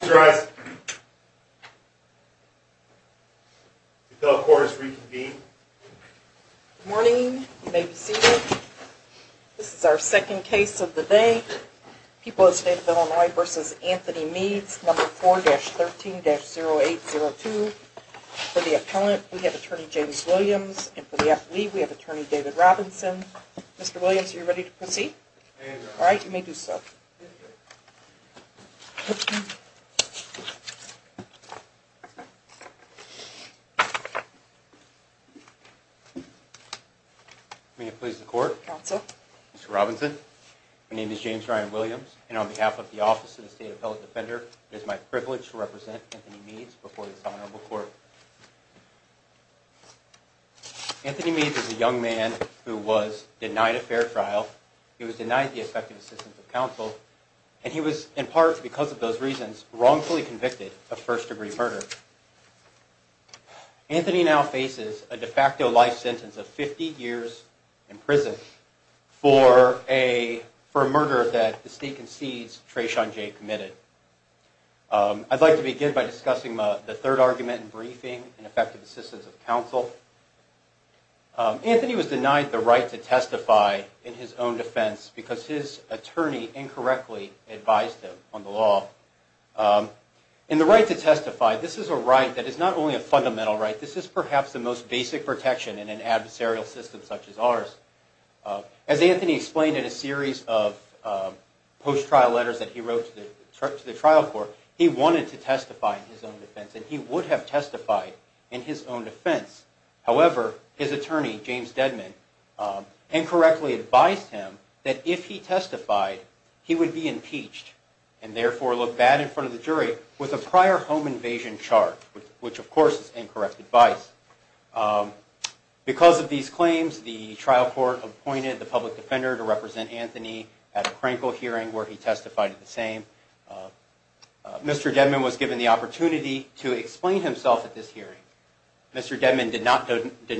Good morning. You may be seated. This is our second case of the day. People of the State of Illinois v. Anthony Meads, No. 4-13-0802. For the appellant, we have Attorney James Williams. And for the affilee, we have Attorney David Robinson. Mr. Robinson, Mr. Williams, are you ready to proceed? All right, you may do so. May it please the Court. Counsel. Mr. Robinson, my name is James Ryan Williams, and on behalf of the Office of the State Appellate Defender, it is my privilege to represent Anthony Meads before this Honorable Court. Anthony Meads is a young man who was denied a fair trial, he was denied the effective assistance of counsel, and he was, in part because of those reasons, wrongfully convicted of first-degree murder. Anthony now faces a de facto life sentence of 50 years in prison for a murder that the State concedes Treshon J committed. I'd like to begin by discussing the third argument in briefing and effective assistance of counsel. Anthony was denied the right to testify in his own defense because his attorney incorrectly advised him on the law. And the right to testify, this is a right that is not only a fundamental right, this is perhaps the most basic protection in an adversarial system such as ours. As Anthony explained in a series of post-trial letters that he wrote to the trial court, he wanted to testify in his own defense, and he would have testified in his own defense. However, his attorney, James Dedman, incorrectly advised him that if he testified, he would be impeached and therefore look bad in front of the jury with a prior home invasion charge, which of course is incorrect advice. Because of these claims, the trial court appointed the public defender to represent Anthony at a Krenkel hearing where he testified in the same. Mr. Dedman was given the opportunity to explain himself at this hearing. Mr. Dedman did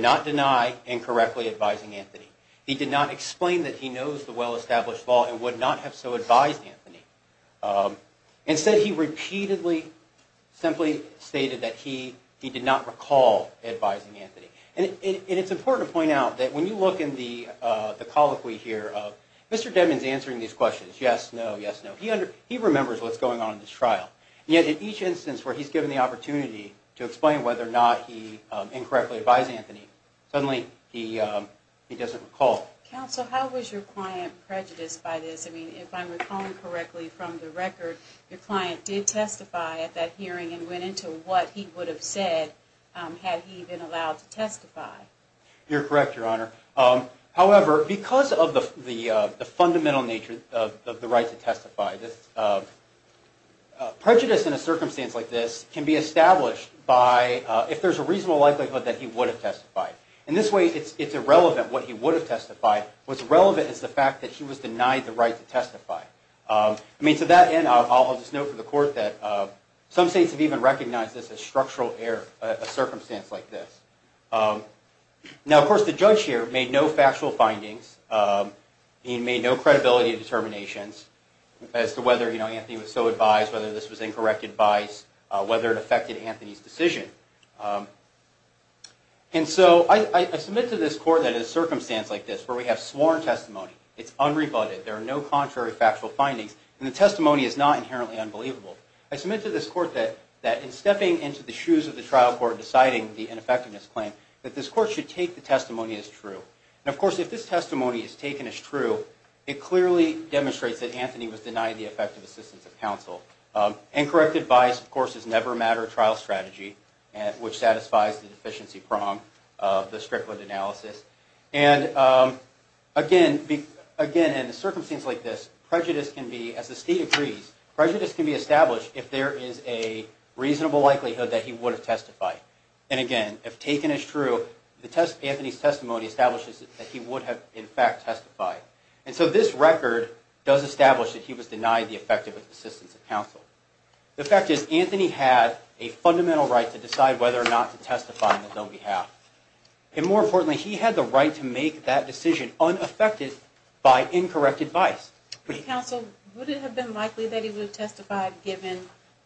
not deny incorrectly advising Anthony. He did not explain that he knows the well-established law and would not have so advised Anthony. Instead, he repeatedly simply stated that he did not recall advising Anthony. And it's important to point out that when you look in the colloquy here, Mr. Dedman is answering these questions, yes, no, yes, no. He remembers what's going on in this trial. Yet in each instance where he's given the opportunity to explain whether or not he incorrectly advised Anthony, suddenly he doesn't recall. Counsel, how was your client prejudiced by this? I mean, if I'm recalling correctly from the record, your client did testify at that hearing and went into what he would have said had he been allowed to testify. You're correct, Your Honor. However, because of the fundamental nature of the right to testify, prejudice in a circumstance like this can be established by if there's a reasonable likelihood that he would have testified. In this way, it's irrelevant what he would have testified. What's relevant is the fact that he was denied the right to testify. I mean, to that end, I'll just note for the Court that some states have even recognized this as structural error, a circumstance like this. Now, of course, the judge here made no factual findings. He made no credibility determinations as to whether Anthony was so advised, whether this was incorrect advice, whether it affected Anthony's decision. And so I submit to this Court that in a circumstance like this where we have sworn testimony, it's unrebutted, there are no contrary factual findings, and the testimony is not inherently unbelievable. I submit to this Court that in stepping into the shoes of the trial court deciding the ineffectiveness claim, that this Court should take the testimony as true. And, of course, if this testimony is taken as true, it clearly demonstrates that Anthony was denied the effective assistance of counsel. Incorrect advice, of course, is never a matter of trial strategy, which satisfies the deficiency prong of the Strickland analysis. And, again, in a circumstance like this, prejudice can be, as the state agrees, prejudice can be established if there is a reasonable likelihood that he would have testified. And, again, if taken as true, Anthony's testimony establishes that he would have, in fact, testified. And so this record does establish that he was denied the effective assistance of counsel. The fact is, Anthony had a fundamental right to decide whether or not to testify on his own behalf. And, more importantly, he had the right to make that decision unaffected by incorrect advice. Counsel, would it have been likely that he would have testified given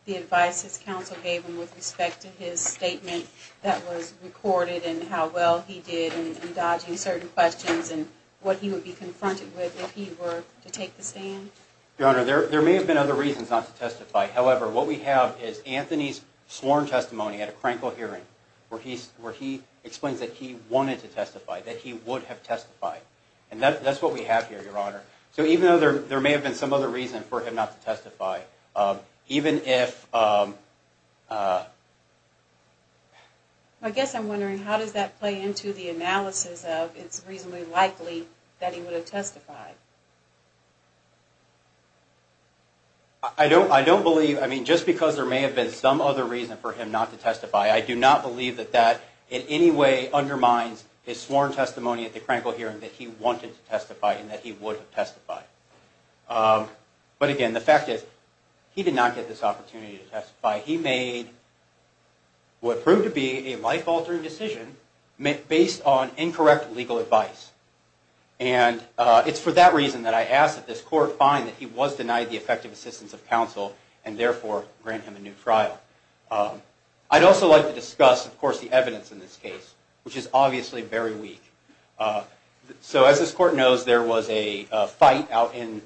the advice his counsel gave him with respect to his statement that was recorded, and how well he did in dodging certain questions, and what he would be confronted with if he were to take the stand? Your Honor, there may have been other reasons not to testify. However, what we have is Anthony's sworn testimony at a Krankel hearing where he explains that he wanted to testify, that he would have testified. And that's what we have here, Your Honor. So even though there may have been some other reason for him not to testify, even if... I guess I'm wondering, how does that play into the analysis of it's reasonably likely that he would have testified? I don't believe, I mean, just because there may have been some other reason for him not to testify, I do not believe that that in any way undermines his sworn testimony at the Krankel hearing that he wanted to testify and that he would have testified. But again, the fact is, he did not get this opportunity to testify. He made what proved to be a life-altering decision based on incorrect legal advice. And it's for that reason that I ask that this Court find that he was denied the effective assistance of counsel, and therefore grant him a new trial. I'd also like to discuss, of course, the evidence in this case, which is obviously very weak. So as this Court knows, there was a fight out in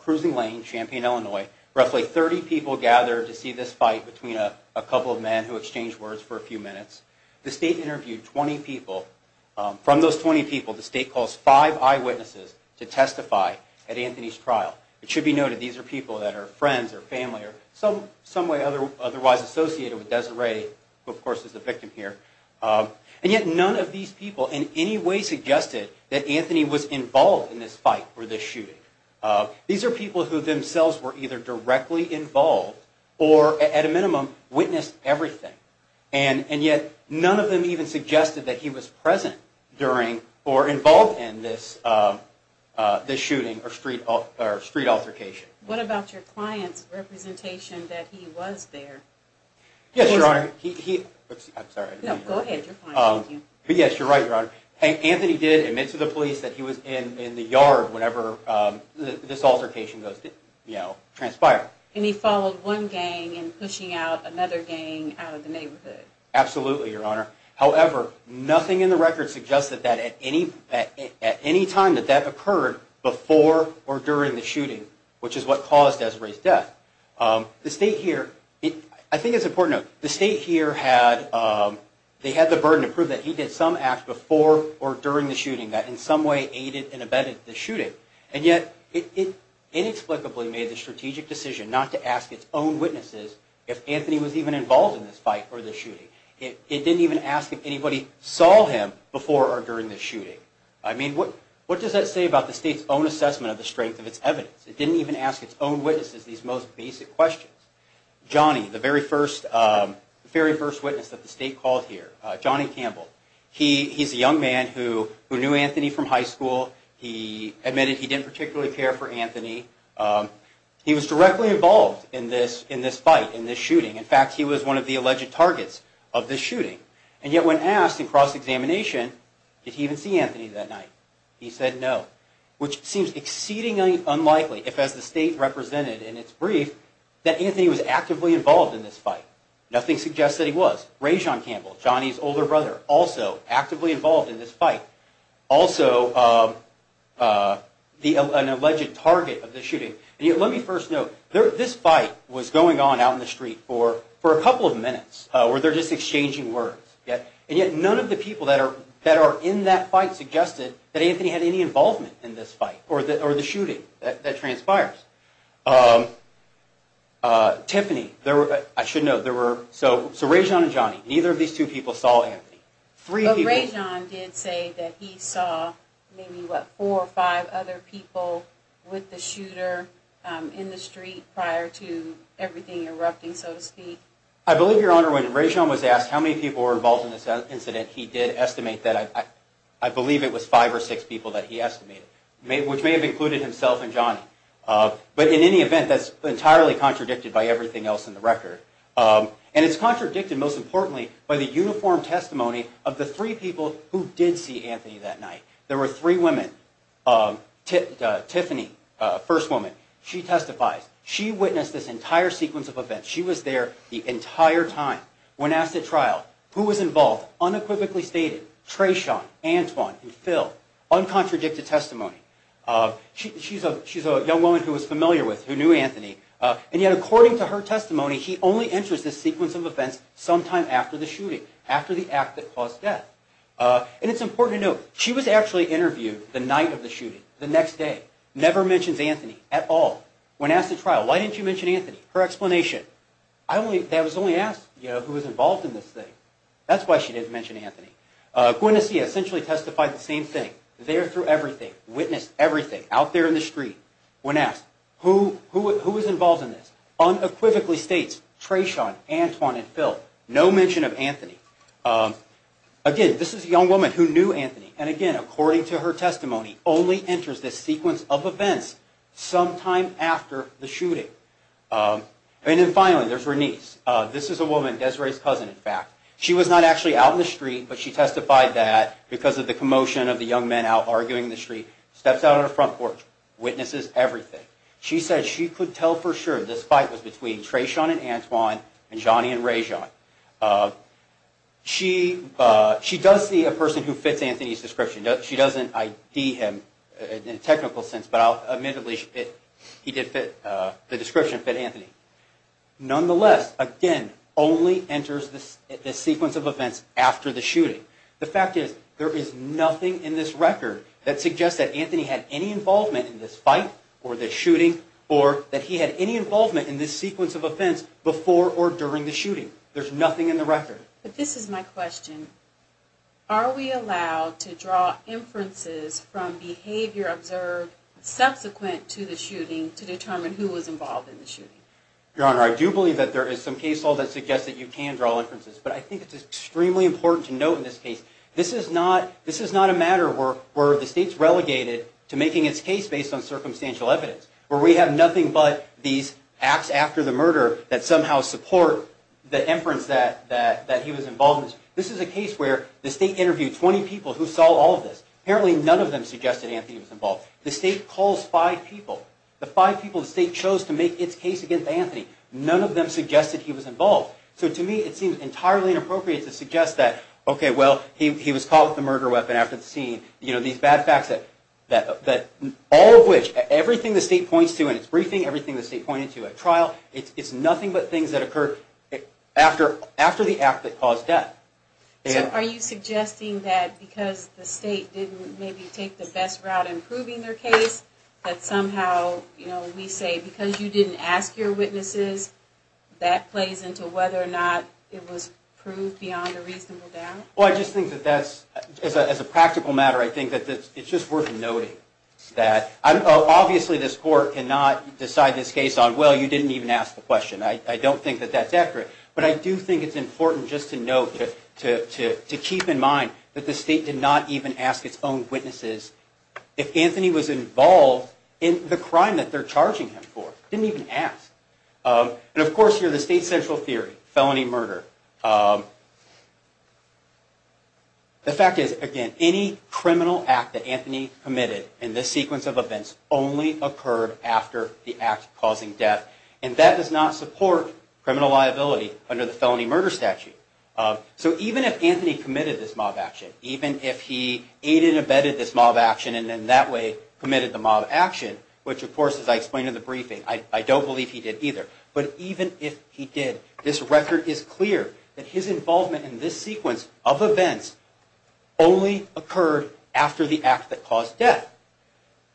Cruising Lane, Champaign, Illinois. Roughly 30 people gathered to see this fight between a couple of men who exchanged words for a few minutes. The State interviewed 20 people. From those 20 people, the State calls five eyewitnesses to testify at Anthony's trial. It should be noted, these are people that are friends or family or in some way otherwise associated with Desiree, who of course is the victim here. And yet none of these people in any way suggested that Anthony was involved in this fight or this shooting. These are people who themselves were either directly involved or, at a minimum, witnessed everything. And yet none of them even suggested that he was present during or involved in this shooting or street altercation. What about your client's representation that he was there? Yes, Your Honor. I'm sorry. No, go ahead. You're fine. Yes, you're right, Your Honor. Anthony did admit to the police that he was in the yard whenever this altercation transpired. And he followed one gang and pushing out another gang out of the neighborhood. Absolutely, Your Honor. However, nothing in the record suggested that at any time that that occurred before or during the shooting, which is what caused Desiree's death. The State here, I think it's important to note, the State here had the burden to prove that he did some act before or during the shooting that in some way aided and abetted the shooting. And yet it inexplicably made the strategic decision not to ask its own witnesses if Anthony was even involved in this fight or this shooting. It didn't even ask if anybody saw him before or during the shooting. I mean, what does that say about the State's own assessment of the strength of its evidence? It didn't even ask its own witnesses these most basic questions. Johnny, the very first witness that the State called here, Johnny Campbell, he's a young man who knew Anthony from high school. He admitted he didn't particularly care for Anthony. He was directly involved in this fight, in this shooting. In fact, he was one of the alleged targets of this shooting. And yet when asked in cross-examination, did he even see Anthony that night? He said no, which seems exceedingly unlikely if, as the State represented in its brief, that Anthony was actively involved in this fight. Nothing suggests that he was. Rajon Campbell, Johnny's older brother, also actively involved in this fight, also an alleged target of the shooting. And yet let me first note, this fight was going on out in the street for a couple of minutes where they're just exchanging words. And yet none of the people that are in that fight suggested that Anthony had any involvement in this fight or the shooting that transpires. Tiffany, I should note, so Rajon and Johnny, neither of these two people saw Anthony. But Rajon did say that he saw maybe, what, four or five other people with the shooter in the street prior to everything erupting, so to speak. I believe, Your Honor, when Rajon was asked how many people were involved in this incident, he did estimate that I believe it was five or six people that he estimated, which may have included himself and Johnny. But in any event, that's entirely contradicted by everything else in the record. And it's contradicted, most importantly, by the uniform testimony of the three people who did see Anthony that night. There were three women. Tiffany, first woman, she testifies. She witnessed this entire sequence of events. She was there the entire time when asked at trial who was involved. Unequivocally stated, Treshawn, Antoine, and Phil. Uncontradicted testimony. She's a young woman who was familiar with, who knew Anthony. And yet, according to her testimony, he only enters this sequence of events sometime after the shooting, after the act that caused death. And it's important to note, she was actually interviewed the night of the shooting, the next day. Never mentions Anthony at all. When asked at trial, why didn't you mention Anthony? Her explanation, I was only asked who was involved in this thing. That's why she didn't mention Anthony. Guinness, he essentially testified the same thing. There through everything. Witnessed everything. Out there in the street. When asked, who was involved in this? Unequivocally states, Treshawn, Antoine, and Phil. No mention of Anthony. Again, this is a young woman who knew Anthony. And again, according to her testimony, only enters this sequence of events sometime after the shooting. And then finally, there's Renice. This is a woman, Desiree's cousin, in fact. She was not actually out in the street, but she testified that because of the commotion of the young men out arguing in the street. Steps out on the front porch. Witnesses everything. She said she could tell for sure this fight was between Treshawn and Antoine, and Johnny and Rajon. She does see a person who fits Anthony's description. She doesn't ID him in a technical sense, but admittedly, the description fit Anthony. Nonetheless, again, only enters this sequence of events after the shooting. The fact is, there is nothing in this record that suggests that Anthony had any involvement in this fight, or this shooting, or that he had any involvement in this sequence of events before or during the shooting. There's nothing in the record. But this is my question. Are we allowed to draw inferences from behavior observed subsequent to the shooting to determine who was involved in the shooting? Your Honor, I do believe that there is some case law that suggests that you can draw inferences. But I think it's extremely important to note in this case, this is not a matter where the state's relegated to making its case based on circumstantial evidence. Where we have nothing but these acts after the murder that somehow support the inference that he was involved in this. This is a case where the state interviewed 20 people who saw all of this. Apparently, none of them suggested Anthony was involved. The state calls five people. The five people the state chose to make its case against Anthony, none of them suggested he was involved. So to me, it seems entirely inappropriate to suggest that, okay, well, he was caught with a murder weapon after the scene. You know, these bad facts that all of which, everything the state points to in its briefing, everything the state pointed to at trial, it's nothing but things that occurred after the act that caused death. So are you suggesting that because the state didn't maybe take the best route in proving their case, that somehow, you know, we say because you didn't ask your witnesses, that plays into whether or not it was proved beyond a reasonable doubt? Well, I just think that that's, as a practical matter, I think that it's just worth noting that. Obviously, this court cannot decide this case on, well, you didn't even ask the question. I don't think that that's accurate. But I do think it's important just to note, to keep in mind, that the state did not even ask its own witnesses if Anthony was involved in the crime that they're charging him for. They didn't even ask. And of course, here, the state's central theory, felony murder. The fact is, again, any criminal act that Anthony committed in this sequence of events only occurred after the act causing death. And that does not support criminal liability under the felony murder statute. So even if Anthony committed this mob action, even if he aided and abetted this mob action and in that way committed the mob action, which, of course, as I explained in the briefing, I don't believe he did either. But even if he did, this record is clear that his involvement in this sequence of events only occurred after the act that caused death.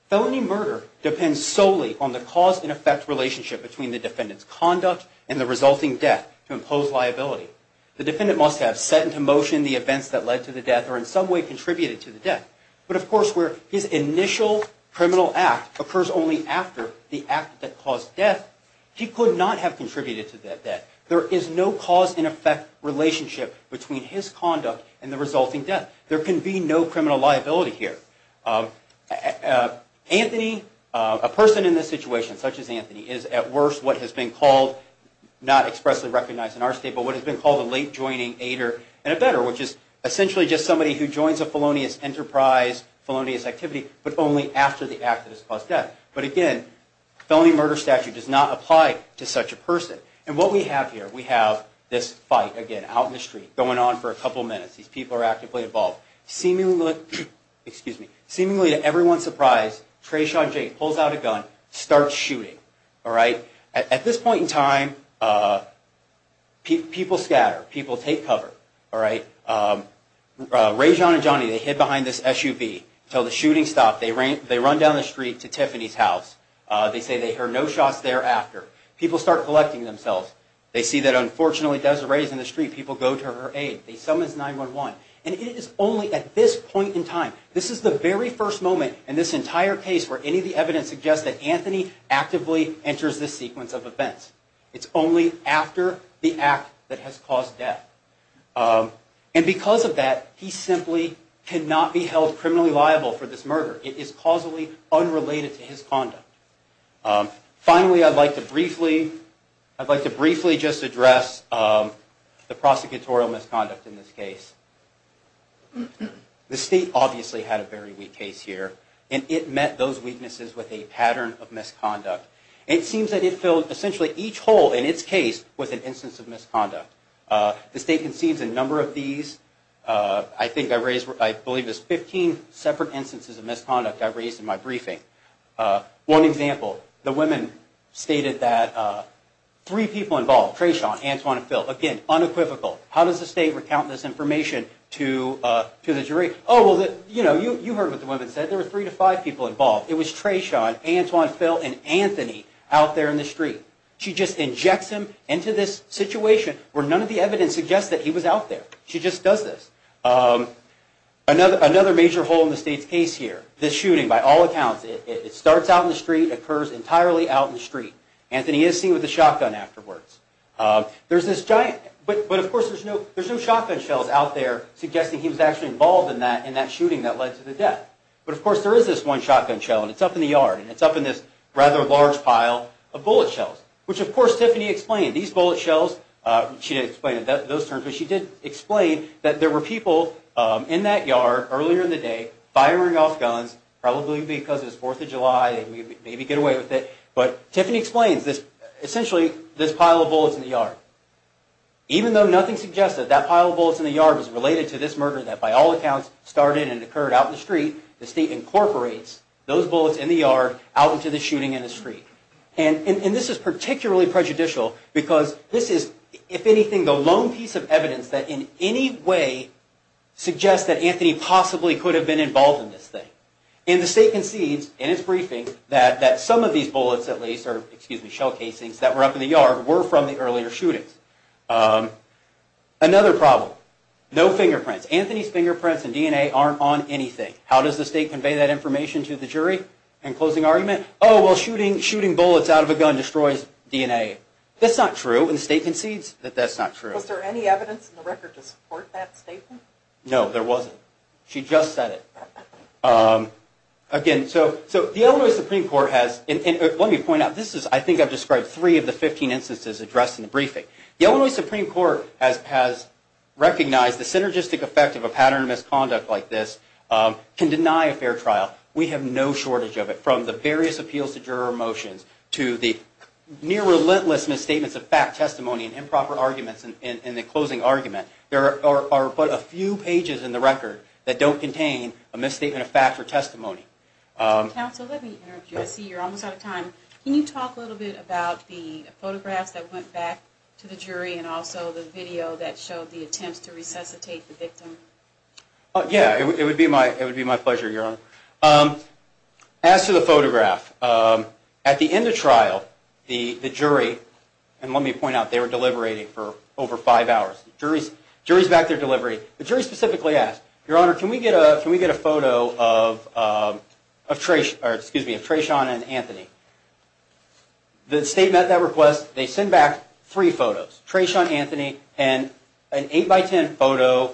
Felony murder depends solely on the cause and effect relationship between the defendant's conduct and the resulting death to impose liability. The defendant must have set into motion the events that led to the death or in some way contributed to the death. But of course, where his initial criminal act occurs only after the act that caused death, he could not have contributed to that death. There is no cause and effect relationship between his conduct and the resulting death. There can be no criminal liability here. Anthony, a person in this situation such as Anthony, is at worst what has been called, not expressly recognized in our state, but what has been called a late joining aider and abetter, which is essentially just somebody who joins a felonious enterprise, felonious activity, but only after the act that has caused death. But again, felony murder statute does not apply to such a person. And what we have here, we have this fight, again, out in the street, going on for a couple of minutes. These people are actively involved. Seemingly to everyone's surprise, Treshawn Jay pulls out a gun, starts shooting. At this point in time, people scatter. People take cover. Rejon and Johnny, they hid behind this SUV until the shooting stopped. They run down the street to Tiffany's house. They say they hear no shots thereafter. People start collecting themselves. They see that unfortunately Desiree is in the street. People go to her aid. They summons 911. And it is only at this point in time, this is the very first moment in this entire case where any of the evidence suggests that Anthony actively enters this sequence of events. It's only after the act that has caused death. And because of that, he simply cannot be held criminally liable for this murder. It is causally unrelated to his conduct. Finally, I'd like to briefly just address the prosecutorial misconduct in this case. The state obviously had a very weak case here. And it met those weaknesses with a pattern of misconduct. It seems that it filled essentially each hole in its case with an instance of misconduct. The state concedes a number of these. I think I raised, I believe it's 15 separate instances of misconduct I raised in my briefing. One example, the women stated that three people involved, Treshawn, Antoine, and Phil, again, unequivocal. How does the state recount this information to the jury? Oh, well, you know, you heard what the women said. There were three to five people involved. It was Treshawn, Antoine, Phil, and Anthony out there in the street. She just injects him into this situation where none of the evidence suggests that he was out there. She just does this. Another major hole in the state's case here, this shooting, by all accounts, it starts out in the street, occurs entirely out in the street. Anthony is seen with a shotgun afterwards. There's this giant, but, of course, there's no shotgun shells out there suggesting he was actually involved in that shooting that led to the death. But, of course, there is this one shotgun shell, and it's up in the yard, and it's up in this rather large pile of bullet shells, which, of course, Tiffany explained. These bullet shells, she didn't explain it in those terms, but she did explain that there were people in that yard earlier in the day firing off guns, probably because it was Fourth of July, maybe get away with it. But Tiffany explains this, essentially, this pile of bullets in the yard. Even though nothing suggests that that pile of bullets in the yard is related to this murder that, by all accounts, started and occurred out in the street, the state incorporates those bullets in the yard out into the shooting in the street. And this is particularly prejudicial because this is, if anything, the lone piece of evidence that, in any way, suggests that Anthony possibly could have been involved in this thing. And the state concedes, in its briefing, that some of these bullets, at least, or, excuse me, shell casings, that were up in the yard were from the earlier shootings. Another problem, no fingerprints. Anthony's fingerprints and DNA aren't on anything. How does the state convey that information to the jury? In closing argument, oh, well, shooting bullets out of a gun destroys DNA. That's not true, and the state concedes that that's not true. Was there any evidence in the record to support that statement? No, there wasn't. She just said it. Again, so the Illinois Supreme Court has, and let me point out, this is, I think I've described, three of the 15 instances addressed in the briefing. The Illinois Supreme Court has recognized the synergistic effect of a pattern of misconduct like this can deny a fair trial. We have no shortage of it. From the various appeals to juror motions to the near relentless misstatements of fact, testimony, and improper arguments in the closing argument, there are but a few pages in the record that don't contain a misstatement of fact or testimony. Counsel, let me interrupt you. I see you're almost out of time. Can you talk a little bit about the photographs that went back to the jury and also the video that showed the attempts to resuscitate the victim? Yeah, it would be my pleasure, Your Honor. As to the photograph, at the end of trial, the jury, and let me point out, they were deliberating for over five hours. The jury is back to their delivery. The jury specifically asked, Your Honor, can we get a photo of Treshawn and Anthony? The statement at that request, they send back three photos, Treshawn, Anthony, and an 8 by 10 photo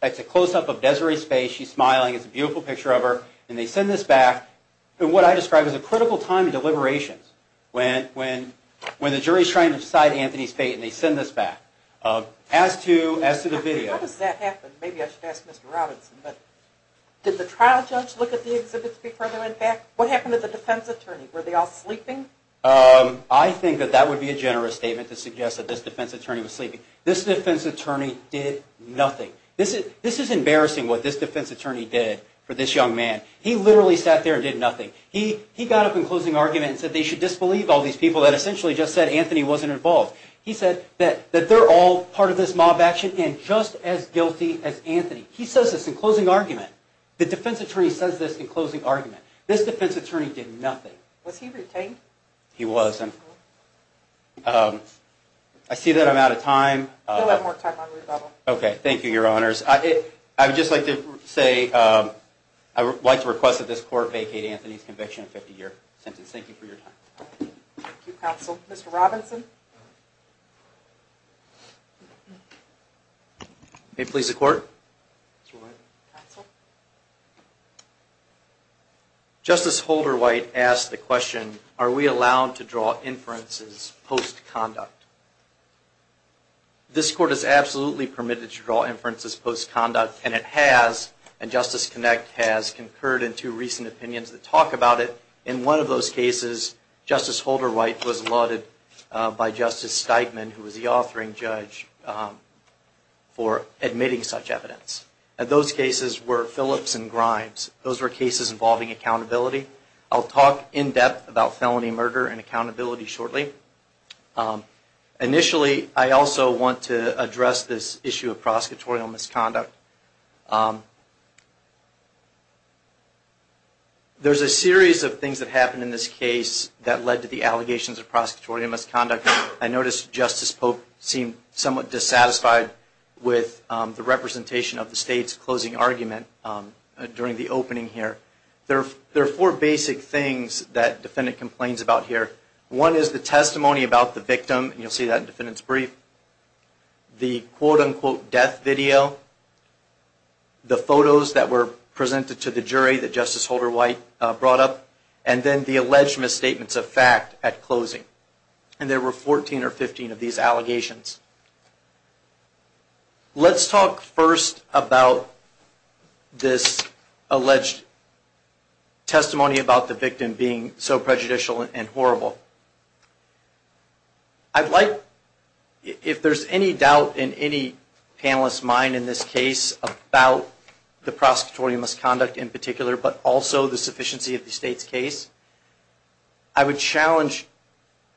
that's a close-up of Desiree's face. She's smiling. It's a beautiful picture of her. And they send this back in what I describe as a critical time in deliberations when the jury is trying to decide Anthony's fate, and they send this back. As to the video. How does that happen? Maybe I should ask Mr. Robinson. Did the trial judge look at the exhibits before they went back? What happened to the defense attorney? Were they all sleeping? I think that that would be a generous statement to suggest that this defense attorney was sleeping. This defense attorney did nothing. This is embarrassing what this defense attorney did for this young man. He literally sat there and did nothing. He got up in closing argument and said they should disbelieve all these people that essentially just said Anthony wasn't involved. He said that they're all part of this mob action and just as guilty as Anthony. He says this in closing argument. The defense attorney says this in closing argument. This defense attorney did nothing. Was he retained? He wasn't. I see that I'm out of time. We'll have more time on rebuttal. Okay. Thank you, Your Honors. I would just like to say I would like to request that this court vacate Anthony's conviction in a 50-year sentence. Thank you for your time. Thank you, counsel. Mr. Robinson? May it please the court? Counsel? Justice Holderwhite asked the question, are we allowed to draw inferences post-conduct? This court is absolutely permitted to draw inferences post-conduct and it has, and Justice Connick has, concurred in two recent opinions that talk about it. In one of those cases, Justice Holderwhite was lauded by Justice Steitman, who was the authoring judge, for admitting such evidence. Those cases were Phillips and Grimes. Those were cases involving accountability. I'll talk in depth about felony murder and accountability shortly. Initially, I also want to address this issue of prosecutorial misconduct. There's a series of things that happened in this case that led to the allegations of prosecutorial misconduct. I noticed Justice Pope seemed somewhat dissatisfied with the representation of the State's closing argument during the opening here. There are four basic things that the defendant complains about here. One is the testimony about the victim, and you'll see that in the defendant's brief, the quote-unquote death video, the photos that were presented to the jury that Justice Holderwhite brought up, and then the alleged misstatements of fact at closing. There were 14 or 15 of these allegations. Let's talk first about this alleged testimony about the victim being so prejudicial and horrible. If there's any doubt in any panelist's mind in this case about the prosecutorial misconduct in particular, but also the sufficiency of the State's case, I would challenge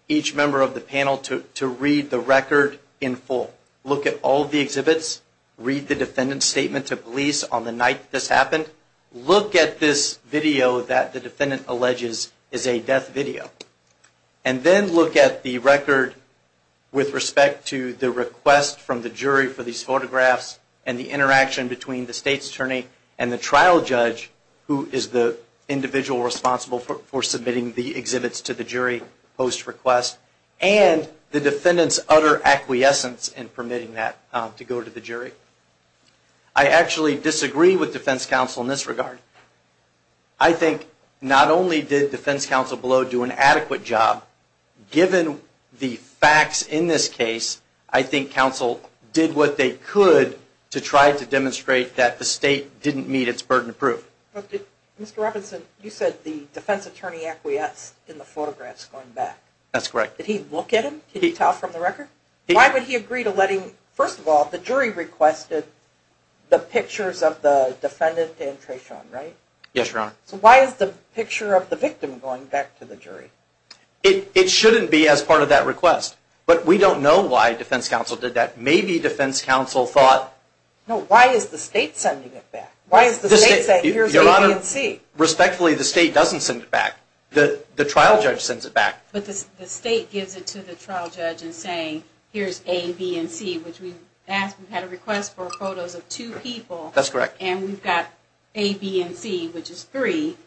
each member of the panel to read the record in full. Look at all of the exhibits. Read the defendant's statement to police on the night this happened. Look at this video that the defendant alleges is a death video. And then look at the record with respect to the request from the jury for these photographs and the interaction between the State's attorney and the trial judge, who is the individual responsible for submitting the exhibits to the jury post-request, and the defendant's utter acquiescence in permitting that to go to the jury. I actually disagree with defense counsel in this regard. I think not only did defense counsel below do an adequate job, given the facts in this case, I think counsel did what they could to try to demonstrate that the State didn't meet its burden of proof. Mr. Robinson, you said the defense attorney acquiesced in the photographs going back. That's correct. Did he look at them? Can you tell from the record? Why would he agree to letting, first of all, the jury requested the pictures of the defendant and Treshawn, right? Yes, Your Honor. So why is the picture of the victim going back to the jury? It shouldn't be as part of that request. But we don't know why defense counsel did that. Maybe defense counsel thought. No, why is the State sending it back? Why is the State saying here's A, B, and C? Your Honor, respectfully, the State doesn't send it back. The trial judge sends it back. But the State gives it to the trial judge in saying here's A, B, and C, which we had a request for photos of two people. That's correct. And we've got A, B, and C, which is three,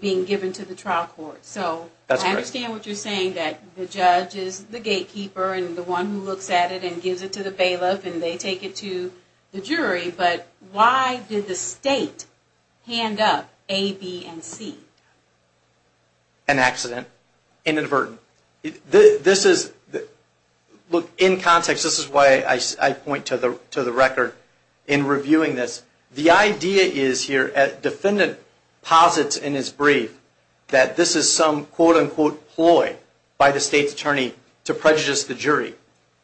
being given to the trial court. So I understand what you're saying, that the judge is the gatekeeper and the one who looks at it and gives it to the bailiff, and they take it to the jury. But why did the State hand up A, B, and C? An accident, inadvertent. Look, in context, this is why I point to the record in reviewing this. The idea is here, the defendant posits in his brief that this is some quote-unquote ploy by the State's attorney to prejudice the jury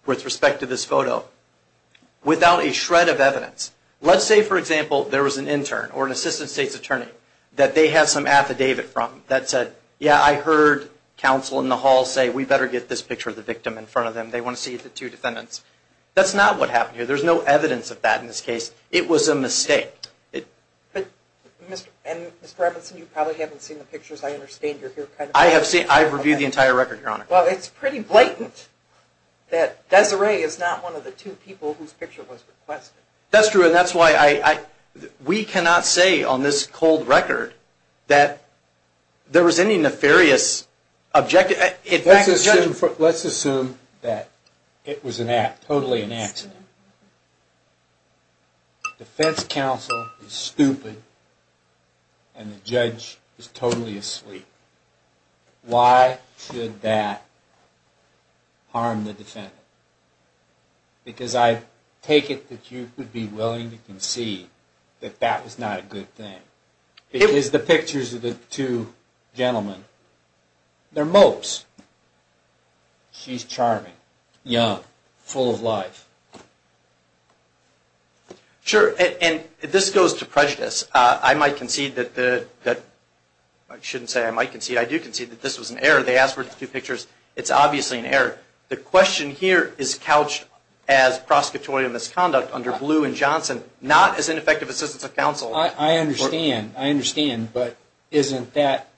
with respect to this photo without a shred of evidence. Let's say, for example, there was an intern or an assistant State's attorney who had a record of this. That's not what happened here. There's no evidence of that in this case. It was a mistake. And, Mr. Robinson, you probably haven't seen the pictures. I understand you're here kind of... I have seen them. I've reviewed the entire record, Your Honor. Well, it's pretty blatant that Desiree is not one of the two people whose picture was requested. That's true, and that's why we cannot say on this cold record that there was any nefarious objective. Let's assume that it was totally an accident. The defense counsel is stupid and the judge is totally asleep. Why should that harm the defendant? Because I take it that you would be willing to concede that that was not a good thing. It is the pictures of the two gentlemen. They're mopes. She's charming. Young. Full of life. Sure, and this goes to prejudice. I might concede that the... I shouldn't say I might concede. I do concede that this was an error. They asked for the two pictures. It's obviously an error. The question here is couched as prosecutorial misconduct under Blue and Johnson, not as ineffective assistants of counsel. I understand, but isn't that,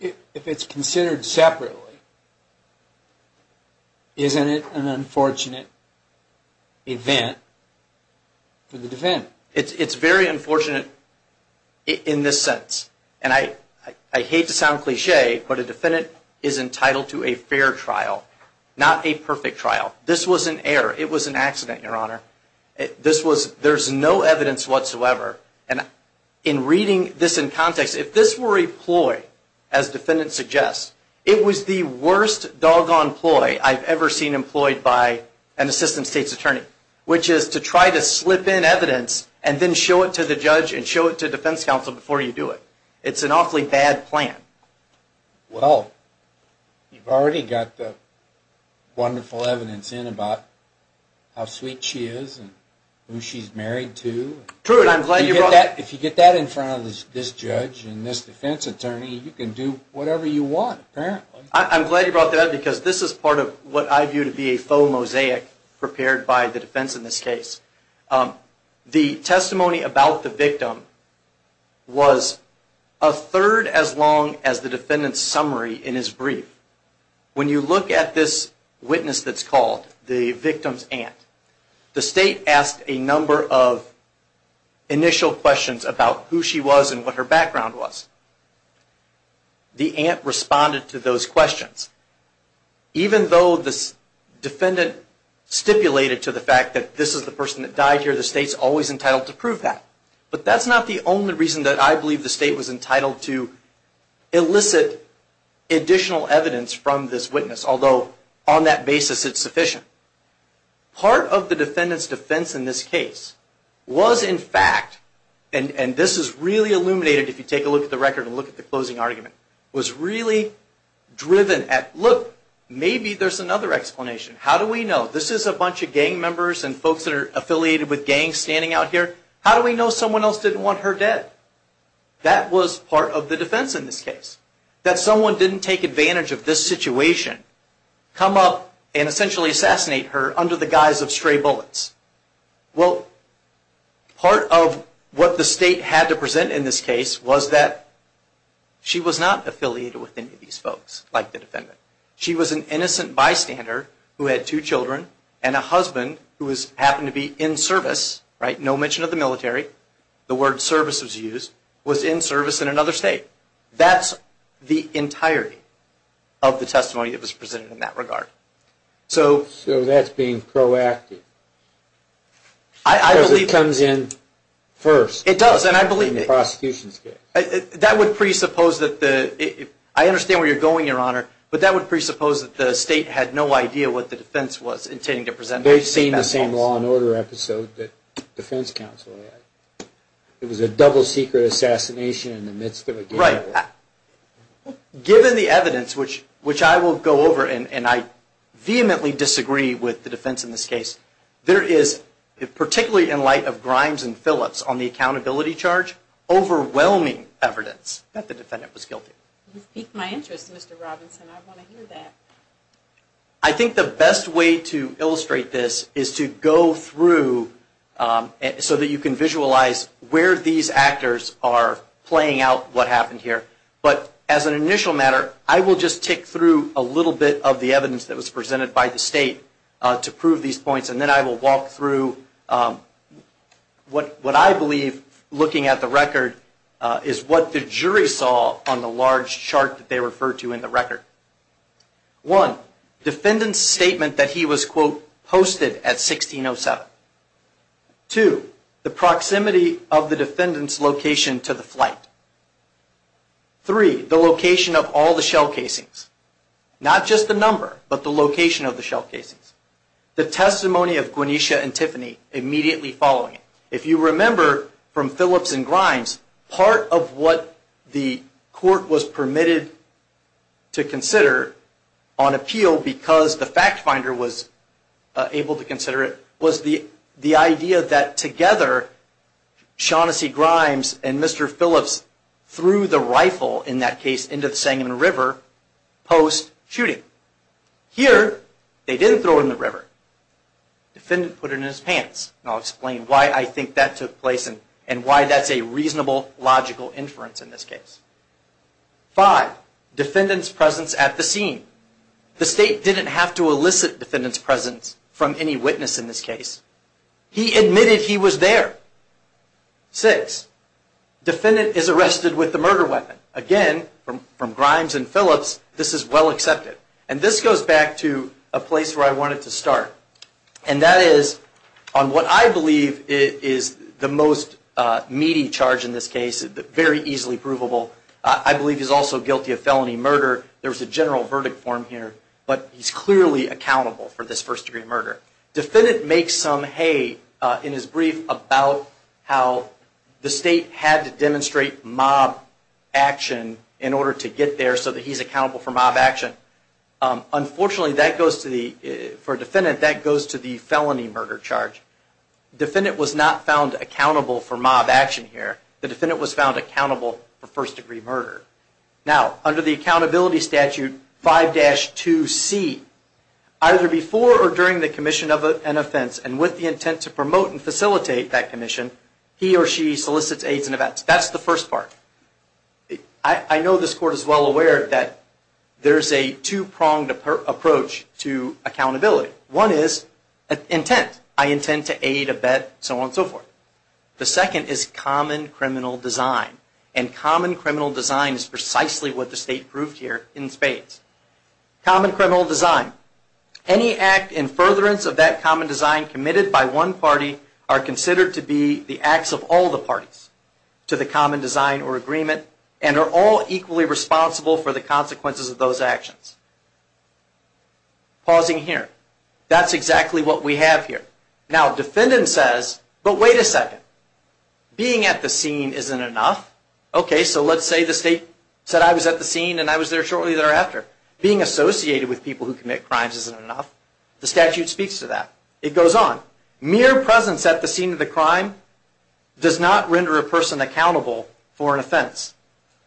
if it's considered separately, isn't it an unfortunate event for the defendant? It's very unfortunate in this sense, and I hate to sound cliche, but a defendant is entitled to a fair trial, not a perfect trial. This was an error. It was an accident, Your Honor. There's no evidence whatsoever, and in reading this in context, if this were a ploy, as the defendant suggests, it was the worst doggone ploy I've ever seen employed by an assistant state's attorney, which is to try to slip in evidence and then show it to the judge and show it to defense counsel before you do it. It's an awfully bad plan. Well, you've already got the wonderful evidence in about how sweet she is and who she's married to. If you get that in front of this judge and this defense attorney, you can do whatever you want, apparently. I'm glad you brought that up because this is part of what I view to be a faux mosaic prepared by the defense in this case. The testimony about the victim was a third as long as the defendant's summary in his brief. When you look at this witness that's called the victim's aunt, the state asked a number of initial questions about who she was and what her background was. The aunt responded to those questions. Even though this defendant stipulated to the fact that this is the person that died here, the state's always entitled to prove that. But that's not the only reason that I believe the state was entitled to elicit additional evidence from this witness, although on that basis, it's sufficient. Part of the defendant's defense in this case was, in fact, and this is really illuminated if you take a look at the record and look at the closing argument, was really driven at, look, maybe there's another explanation. How do we know? This is a bunch of gang members and folks that are affiliated with gangs standing out here. How do we know someone else didn't want her dead? That was part of the defense in this case, that someone didn't take advantage of this situation, come up and essentially assassinate her under the guise of stray bullets. Well, part of what the state had to present in this case was that she was not affiliated with any of these folks, like the defendant. She was an innocent bystander who had two children and a husband who happened to be in service, right, no mention of the military. The word service was used, was in service in another state. That's the entirety of the testimony that was presented in that regard. So that's being proactive. Because it comes in first. It does, and I believe it. In the prosecution's case. That would presuppose that the – I understand where you're going, Your Honor, but that would presuppose that the state had no idea what the defense was intending to present. They've seen the same law and order episode that defense counsel had. It was a double-secret assassination in the midst of a gang murder. Given the evidence, which I will go over, and I vehemently disagree with the defense in this case, there is, particularly in light of Grimes and Phillips on the accountability charge, overwhelming evidence that the defendant was guilty. You've piqued my interest, Mr. Robinson. I want to hear that. I think the best way to illustrate this is to go through so that you can But as an initial matter, I will just tick through a little bit of the evidence that was presented by the state to prove these points, and then I will walk through what I believe, looking at the record, is what the jury saw on the large chart that they referred to in the record. One, defendant's statement that he was, quote, posted at 1607. Two, the proximity of the defendant's location to the flight. Three, the location of all the shell casings. Not just the number, but the location of the shell casings. The testimony of Gweneisha and Tiffany immediately following it. If you remember from Phillips and Grimes, part of what the court was permitted to consider on appeal because the fact finder was able to consider it was the idea that together, Shaughnessy, Grimes, and Mr. Phillips threw the rifle, in that case, into the Sangamon River post-shooting. Here, they didn't throw it in the river. Defendant put it in his pants, and I'll explain why I think that took place and why that's a reasonable, logical inference in this case. Five, defendant's presence at the scene. The state didn't have to elicit defendant's presence from any witness in this case. He admitted he was there. Six, defendant is arrested with the murder weapon. Again, from Grimes and Phillips, this is well accepted. This goes back to a place where I wanted to start, and that is on what I believe is the most meaty charge in this case, very easily provable. I believe he's also guilty of felony murder. There's a general verdict for him here, but he's clearly accountable for this first-degree murder. Defendant makes some hay in his brief about how the state had to demonstrate mob action in order to get there so that he's accountable for mob action. Unfortunately, for a defendant, that goes to the felony murder charge. Defendant was not found accountable for mob action here. The defendant was found accountable for first-degree murder. Now, under the Accountability Statute 5-2C, either before or during the commission of an offense, and with the intent to promote and facilitate that commission, he or she solicits aids and events. That's the first part. I know this Court is well aware that there's a two-pronged approach to accountability. One is intent. I intend to aid, abet, so on and so forth. The second is common criminal design. And common criminal design is precisely what the state proved here in spades. Common criminal design. Any act in furtherance of that common design committed by one party are considered to be the acts of all the parties to the common design or agreement and are all equally responsible for the consequences of those actions. Pausing here. That's exactly what we have here. Now, defendant says, but wait a second. Being at the scene isn't enough. Okay, so let's say the state said I was at the scene and I was there shortly thereafter. Being associated with people who commit crimes isn't enough. The statute speaks to that. It goes on. Mere presence at the scene of the crime does not render a person accountable for an offense.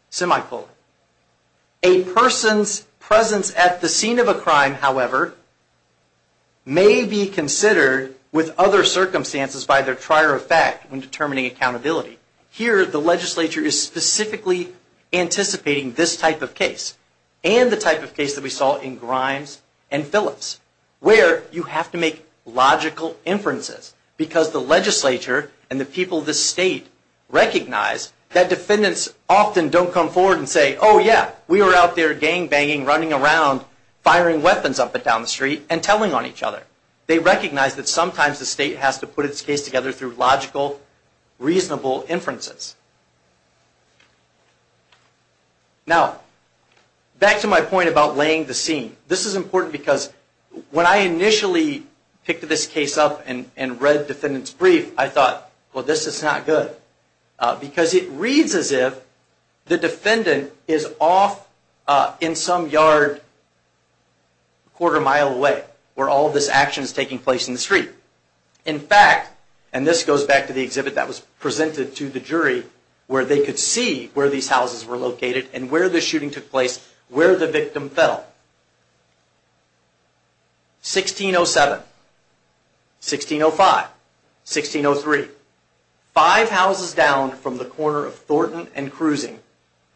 Semi-quote. A person's presence at the scene of a crime, however, may be considered with other circumstances by their trier of fact when determining accountability. Here, the legislature is specifically anticipating this type of case and the type of case that we saw in Grimes and Phillips where you have to make logical inferences because the legislature and the people of the state recognize that defendants often don't come forward and say, oh, yeah, we were out there gang-banging, running around, firing weapons up and down the street, and telling on each other. They recognize that sometimes the state has to put its case together through logical, reasonable inferences. Now, back to my point about laying the scene. This is important because when I initially picked this case up and read defendant's brief, I thought, well, this is not good because it reads as if the defendant is off in some yard a quarter mile away where all this action is taking place in the street. In fact, and this goes back to the exhibit that was presented to the jury where they could see where these houses were located and where the shooting took place, where the victim fell. 1607, 1605, 1603. Five houses down from the corner of Thornton and Cruising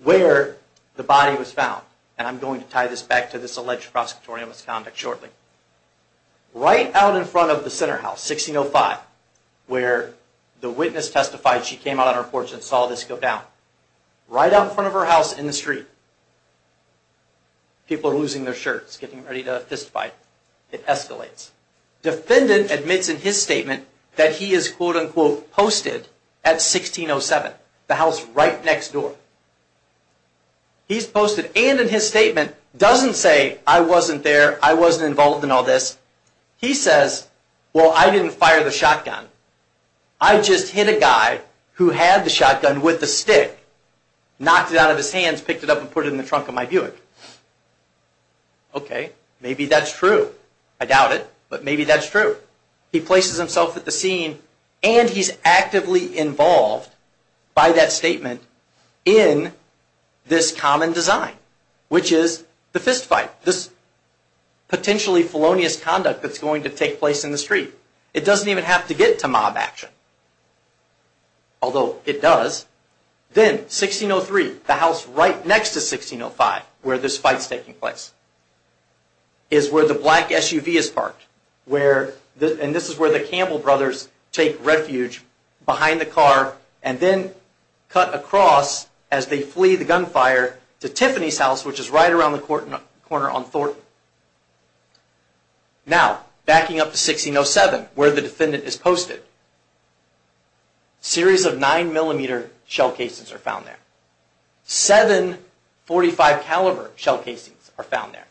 where the body was found. And I'm going to tie this back to this alleged prosecutorial misconduct shortly. Right out in front of the center house, 1605, where the witness testified she came out on her porch and saw this go down. Right out in front of her house in the street. People are losing their shirts, getting ready to testify. It escalates. Defendant admits in his statement that he is quote unquote posted at 1607, the house right next door. He's posted and in his statement doesn't say I wasn't there, I wasn't involved in all this. He says, well, I didn't fire the shotgun. I just hit a guy who had the shotgun with the stick, knocked it out of his hands, picked it up and put it in the trunk of my Buick. Okay, maybe that's true. I doubt it, but maybe that's true. He places himself at the scene and he's actively involved by that statement in this common design, which is the fist fight, this potentially felonious conduct that's going to take place in the street. It doesn't even have to get to mob action, although it does. Then 1603, the house right next to 1605 where this fight's taking place, is where the black SUV is parked. And this is where the Campbell brothers take refuge behind the car and then cut across as they flee the gunfire to Tiffany's house, which is right around the corner on Thornton. Now, backing up to 1607 where the defendant is posted. A series of 9mm shell casings are found there. Seven .45 caliber shell casings are found there.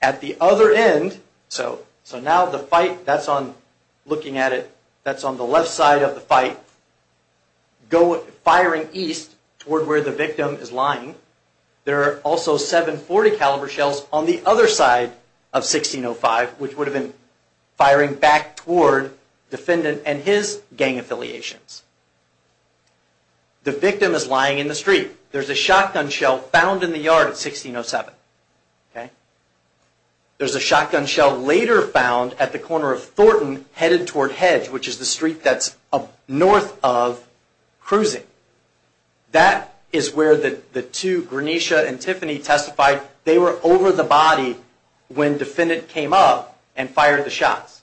At the other end, so now the fight, that's on, looking at it, that's on the left side of the fight, firing east toward where the victim is lying. There are also seven .40 caliber shells on the other side of 1605, which would have been firing back toward defendant and his gang affiliations. The victim is lying in the street. There's a shotgun shell found in the yard at 1607. There's a shotgun shell later found at the corner of Thornton, headed toward Hedge, which is the street that's north of cruising. That is where the two, Granisha and Tiffany, testified. They were over the body when defendant came up and fired the shots.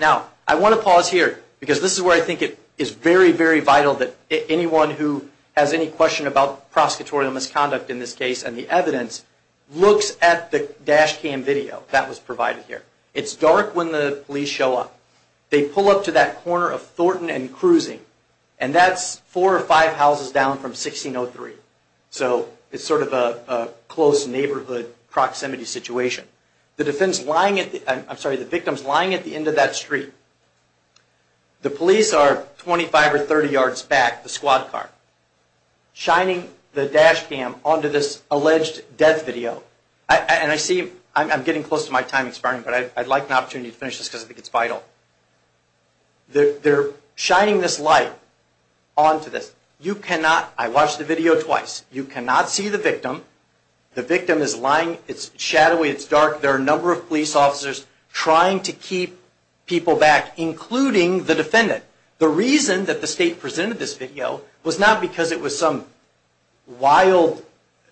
Now, I want to pause here because this is where I think it is very, very vital that anyone who has any question about prosecutorial misconduct in this case and the evidence looks at the dash cam video that was provided here. It's dark when the police show up. They pull up to that corner of Thornton and cruising, and that's four or five houses down from 1603. It's sort of a close neighborhood proximity situation. The victim is lying at the end of that street. The police are 25 or 30 yards back, the squad car, shining the dash cam onto this alleged death video. I'm getting close to my time expiring, but I'd like an opportunity to finish this because I think it's vital. They're shining this light onto this. I watched the video twice. You cannot see the victim. The victim is lying. It's shadowy. It's dark. There are a number of police officers trying to keep people back, including the defendant. The reason that the state presented this video was not because it was some wild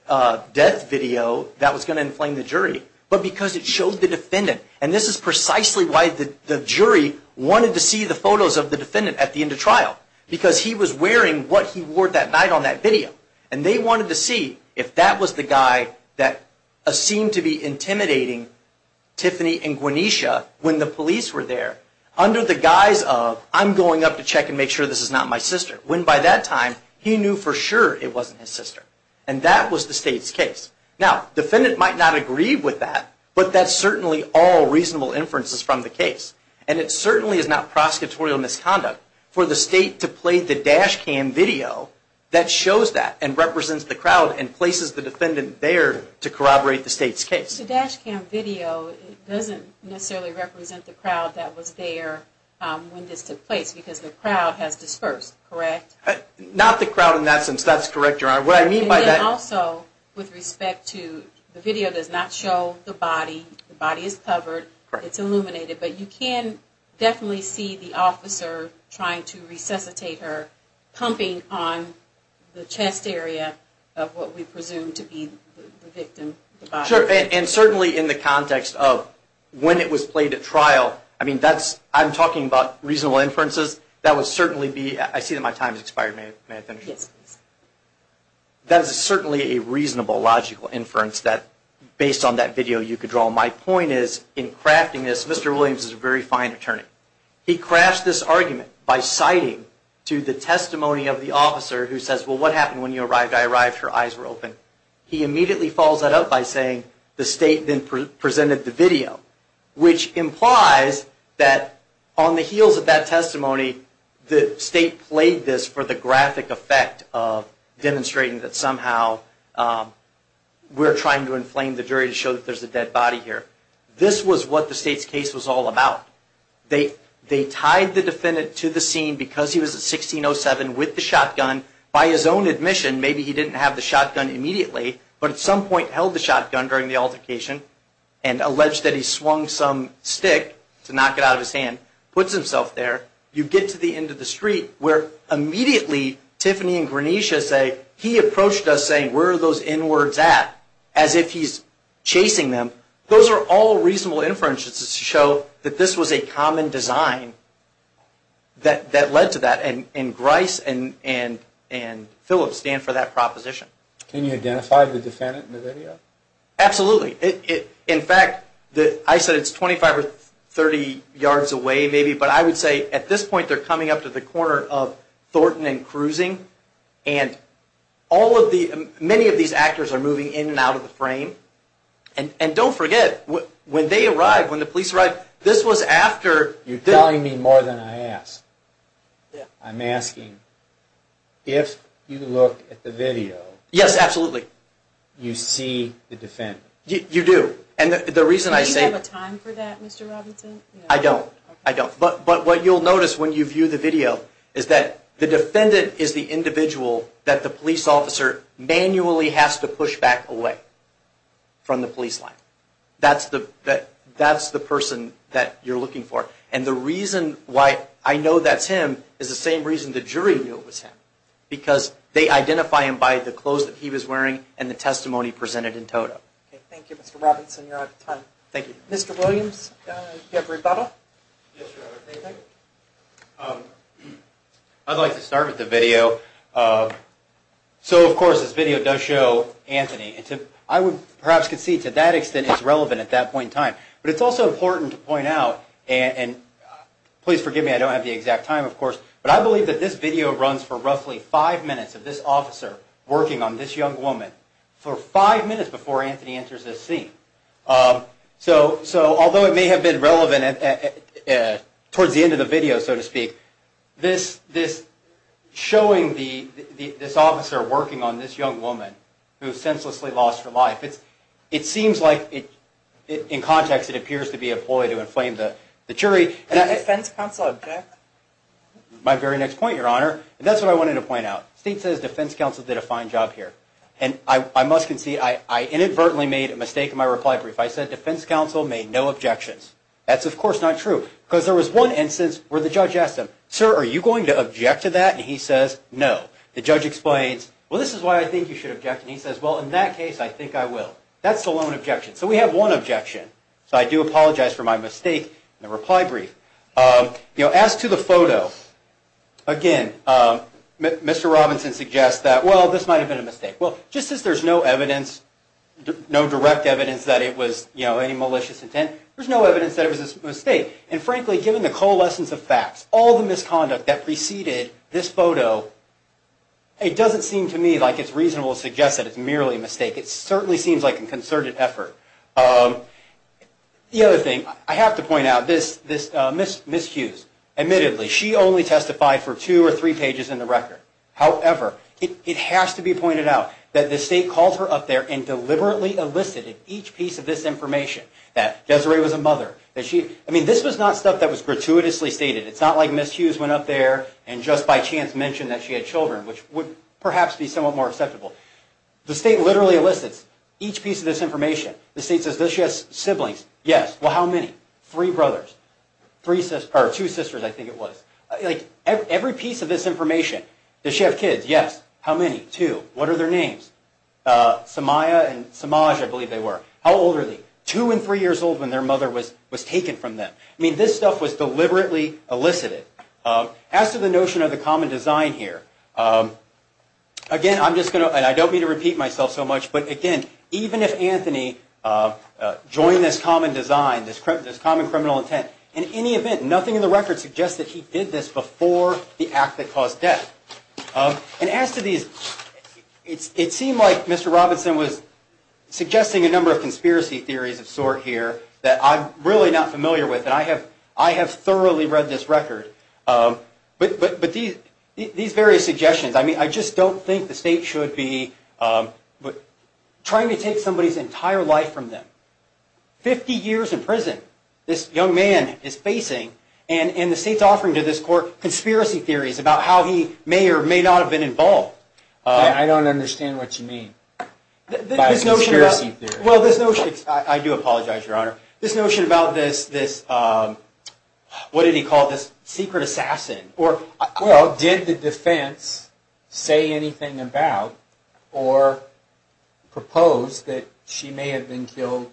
death video that was going to inflame the jury, but because it showed the defendant. This is precisely why the jury wanted to see the photos of the defendant at the time and what he wore that night on that video. They wanted to see if that was the guy that seemed to be intimidating Tiffany and Guanesha when the police were there under the guise of, I'm going up to check and make sure this is not my sister, when by that time he knew for sure it wasn't his sister. That was the state's case. Now, the defendant might not agree with that, but that's certainly all reasonable inferences from the case. It certainly is not prosecutorial misconduct for the state to play the dash cam video that shows that and represents the crowd and places the defendant there to corroborate the state's case. The dash cam video doesn't necessarily represent the crowd that was there when this took place because the crowd has dispersed, correct? Not the crowd in that sense. That's correct, Your Honor. What I mean by that. Also, with respect to the video does not show the body. The body is covered. It's illuminated, but you can definitely see the officer trying to resuscitate her, pumping on the chest area of what we presume to be the victim. Sure. And certainly in the context of when it was played at trial, I mean that's, I'm talking about reasonable inferences. That would certainly be, I see that my time has expired. May I finish? Yes, please. That is certainly a reasonable, logical inference that based on that video you could draw. My point is in crafting this, Mr. Williams is a very fine attorney. He crafts this argument by citing to the testimony of the officer who says, well, what happened when you arrived? I arrived, her eyes were open. He immediately follows that up by saying the state then presented the video, which implies that on the heels of that testimony, the state played this for the graphic effect of demonstrating that somehow we're trying to inflame the jury to show that there's a dead body here. This was what the state's case was all about. They tied the defendant to the scene because he was at 1607 with the shotgun. By his own admission, maybe he didn't have the shotgun immediately, but at some point held the shotgun during the altercation and alleged that he swung some stick to knock it out of his hand, puts himself there. You get to the end of the street where immediately Tiffany and Granisha say, where are those N-words at? As if he's chasing them. Those are all reasonable inferences to show that this was a common design that led to that, and Grice and Phillips stand for that proposition. Can you identify the defendant in the video? Absolutely. In fact, I said it's 25 or 30 yards away maybe, but I would say at this point they're coming up to the corner of Thornton and cruising, and many of these actors are moving in and out of the frame. And don't forget, when they arrived, when the police arrived, this was after. You're telling me more than I asked. I'm asking, if you look at the video. Yes, absolutely. You see the defendant. You do. Do you have a time for that, Mr. Robinson? I don't. But what you'll notice when you view the video is that the defendant is the individual that the police officer manually has to push back away from the police line. That's the person that you're looking for. And the reason why I know that's him is the same reason the jury knew it was him, because they identify him by the clothes that he was wearing and the testimony presented in total. Thank you, Mr. Robinson. You're out of time. Thank you. Mr. Williams, do you have a rebuttal? Yes, Your Honor. Anything? I'd like to start with the video. So, of course, this video does show Anthony. I would perhaps concede to that extent it's relevant at that point in time. But it's also important to point out, and please forgive me, I don't have the exact time, of course, but I believe that this video runs for roughly five minutes of this officer working on this young woman for five minutes before Anthony enters this scene. So although it may have been relevant towards the end of the video, so to speak, this showing this officer working on this young woman who is senselessly lost for life, it seems like in context it appears to be a ploy to inflame the jury. A defense counsel object? My very next point, Your Honor. That's what I wanted to point out. State says defense counsel did a fine job here. And I must concede I inadvertently made a mistake in my reply brief. I said defense counsel made no objections. That's, of course, not true. Because there was one instance where the judge asked him, sir, are you going to object to that? And he says no. The judge explains, well, this is why I think you should object. And he says, well, in that case, I think I will. That's the lone objection. So we have one objection. So I do apologize for my mistake in the reply brief. As to the photo, again, Mr. Robinson suggests that, well, this might have been a mistake. Well, just as there's no evidence, no direct evidence that it was any malicious intent, there's no evidence that it was a mistake. And, frankly, given the coalescence of facts, all the misconduct that preceded this photo, it doesn't seem to me like it's reasonable to suggest that it's merely a mistake. It certainly seems like a concerted effort. The other thing, I have to point out, Ms. Hughes, admittedly, she only testified for two or three pages in the record. However, it has to be pointed out that the state called her up there and deliberately elicited each piece of this information that Desiree was a mother. I mean, this was not stuff that was gratuitously stated. It's not like Ms. Hughes went up there and just by chance mentioned that she had children, which would perhaps be somewhat more acceptable. The state literally elicits each piece of this information. The state says, does she have siblings? Yes. Well, how many? Three brothers. Two sisters, I think it was. Every piece of this information. Does she have kids? Yes. How many? Two. What are their names? Samaya and Samaj, I believe they were. How old are they? Two and three years old when their mother was taken from them. I mean, this stuff was deliberately elicited. As to the notion of the common design here, again, I'm just going to, and I don't mean to repeat myself so much, but again, even if Anthony joined this common design, this common criminal intent, in any event, nothing in the record suggests that he did this before the act that caused death. And as to these, it seemed like Mr. Robinson was suggesting a number of conspiracy theories of sort here that I'm really not familiar with, and I have thoroughly read this record. But these various suggestions, I mean, I just don't think the state should be trying to take somebody's entire life from them. Fifty years in prison this young man is facing, and the state's offering to this court conspiracy theories about how he may or may not have been involved. I don't understand what you mean by conspiracy theories. Well, this notion, I do apologize, Your Honor. This notion about this, what did he call this, secret assassin. Well, did the defense say anything about or propose that she may have been killed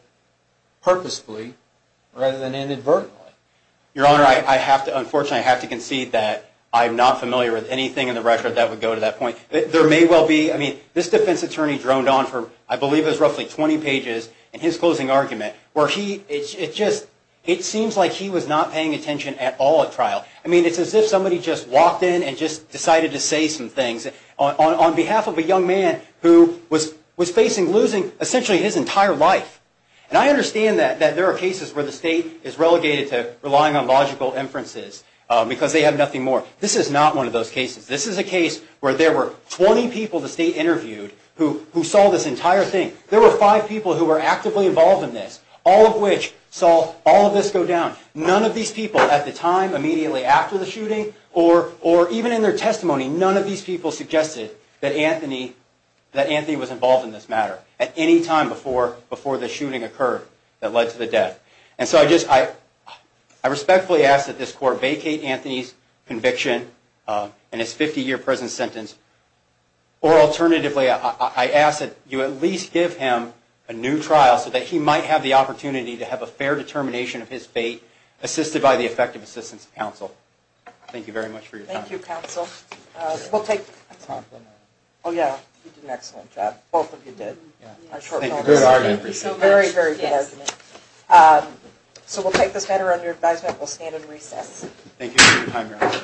purposefully rather than inadvertently? Your Honor, I have to, unfortunately, I have to concede that I'm not familiar with anything in the record that would go to that point. There may well be, I mean, this defense attorney droned on for, I believe it was roughly 20 pages, in his closing argument, where he, it just, it seems like he was not paying attention at all at trial. I mean, it's as if somebody just walked in and just decided to say some things on behalf of a young man who was facing losing essentially his entire life. And I understand that there are cases where the state is relegated to relying on logical inferences because they have nothing more. This is not one of those cases. This is a case where there were 20 people the state interviewed who saw this entire thing. There were five people who were actively involved in this, all of which saw all of this go down. None of these people at the time, immediately after the shooting, or even in their testimony, none of these people suggested that Anthony was involved in this matter at any time before the shooting occurred that led to the death. And so I respectfully ask that this court vacate Anthony's conviction and his 50-year prison sentence. Or alternatively, I ask that you at least give him a new trial so that he might have the opportunity to have a fair determination of his fate, assisted by the effective assistance of counsel. Thank you very much for your time. Thank you, counsel. We'll take... Oh yeah, you did an excellent job. Both of you did. Thank you. Very, very good argument. So we'll take this matter under advisement. We'll stand and recess. Thank you for your time, Your Honor.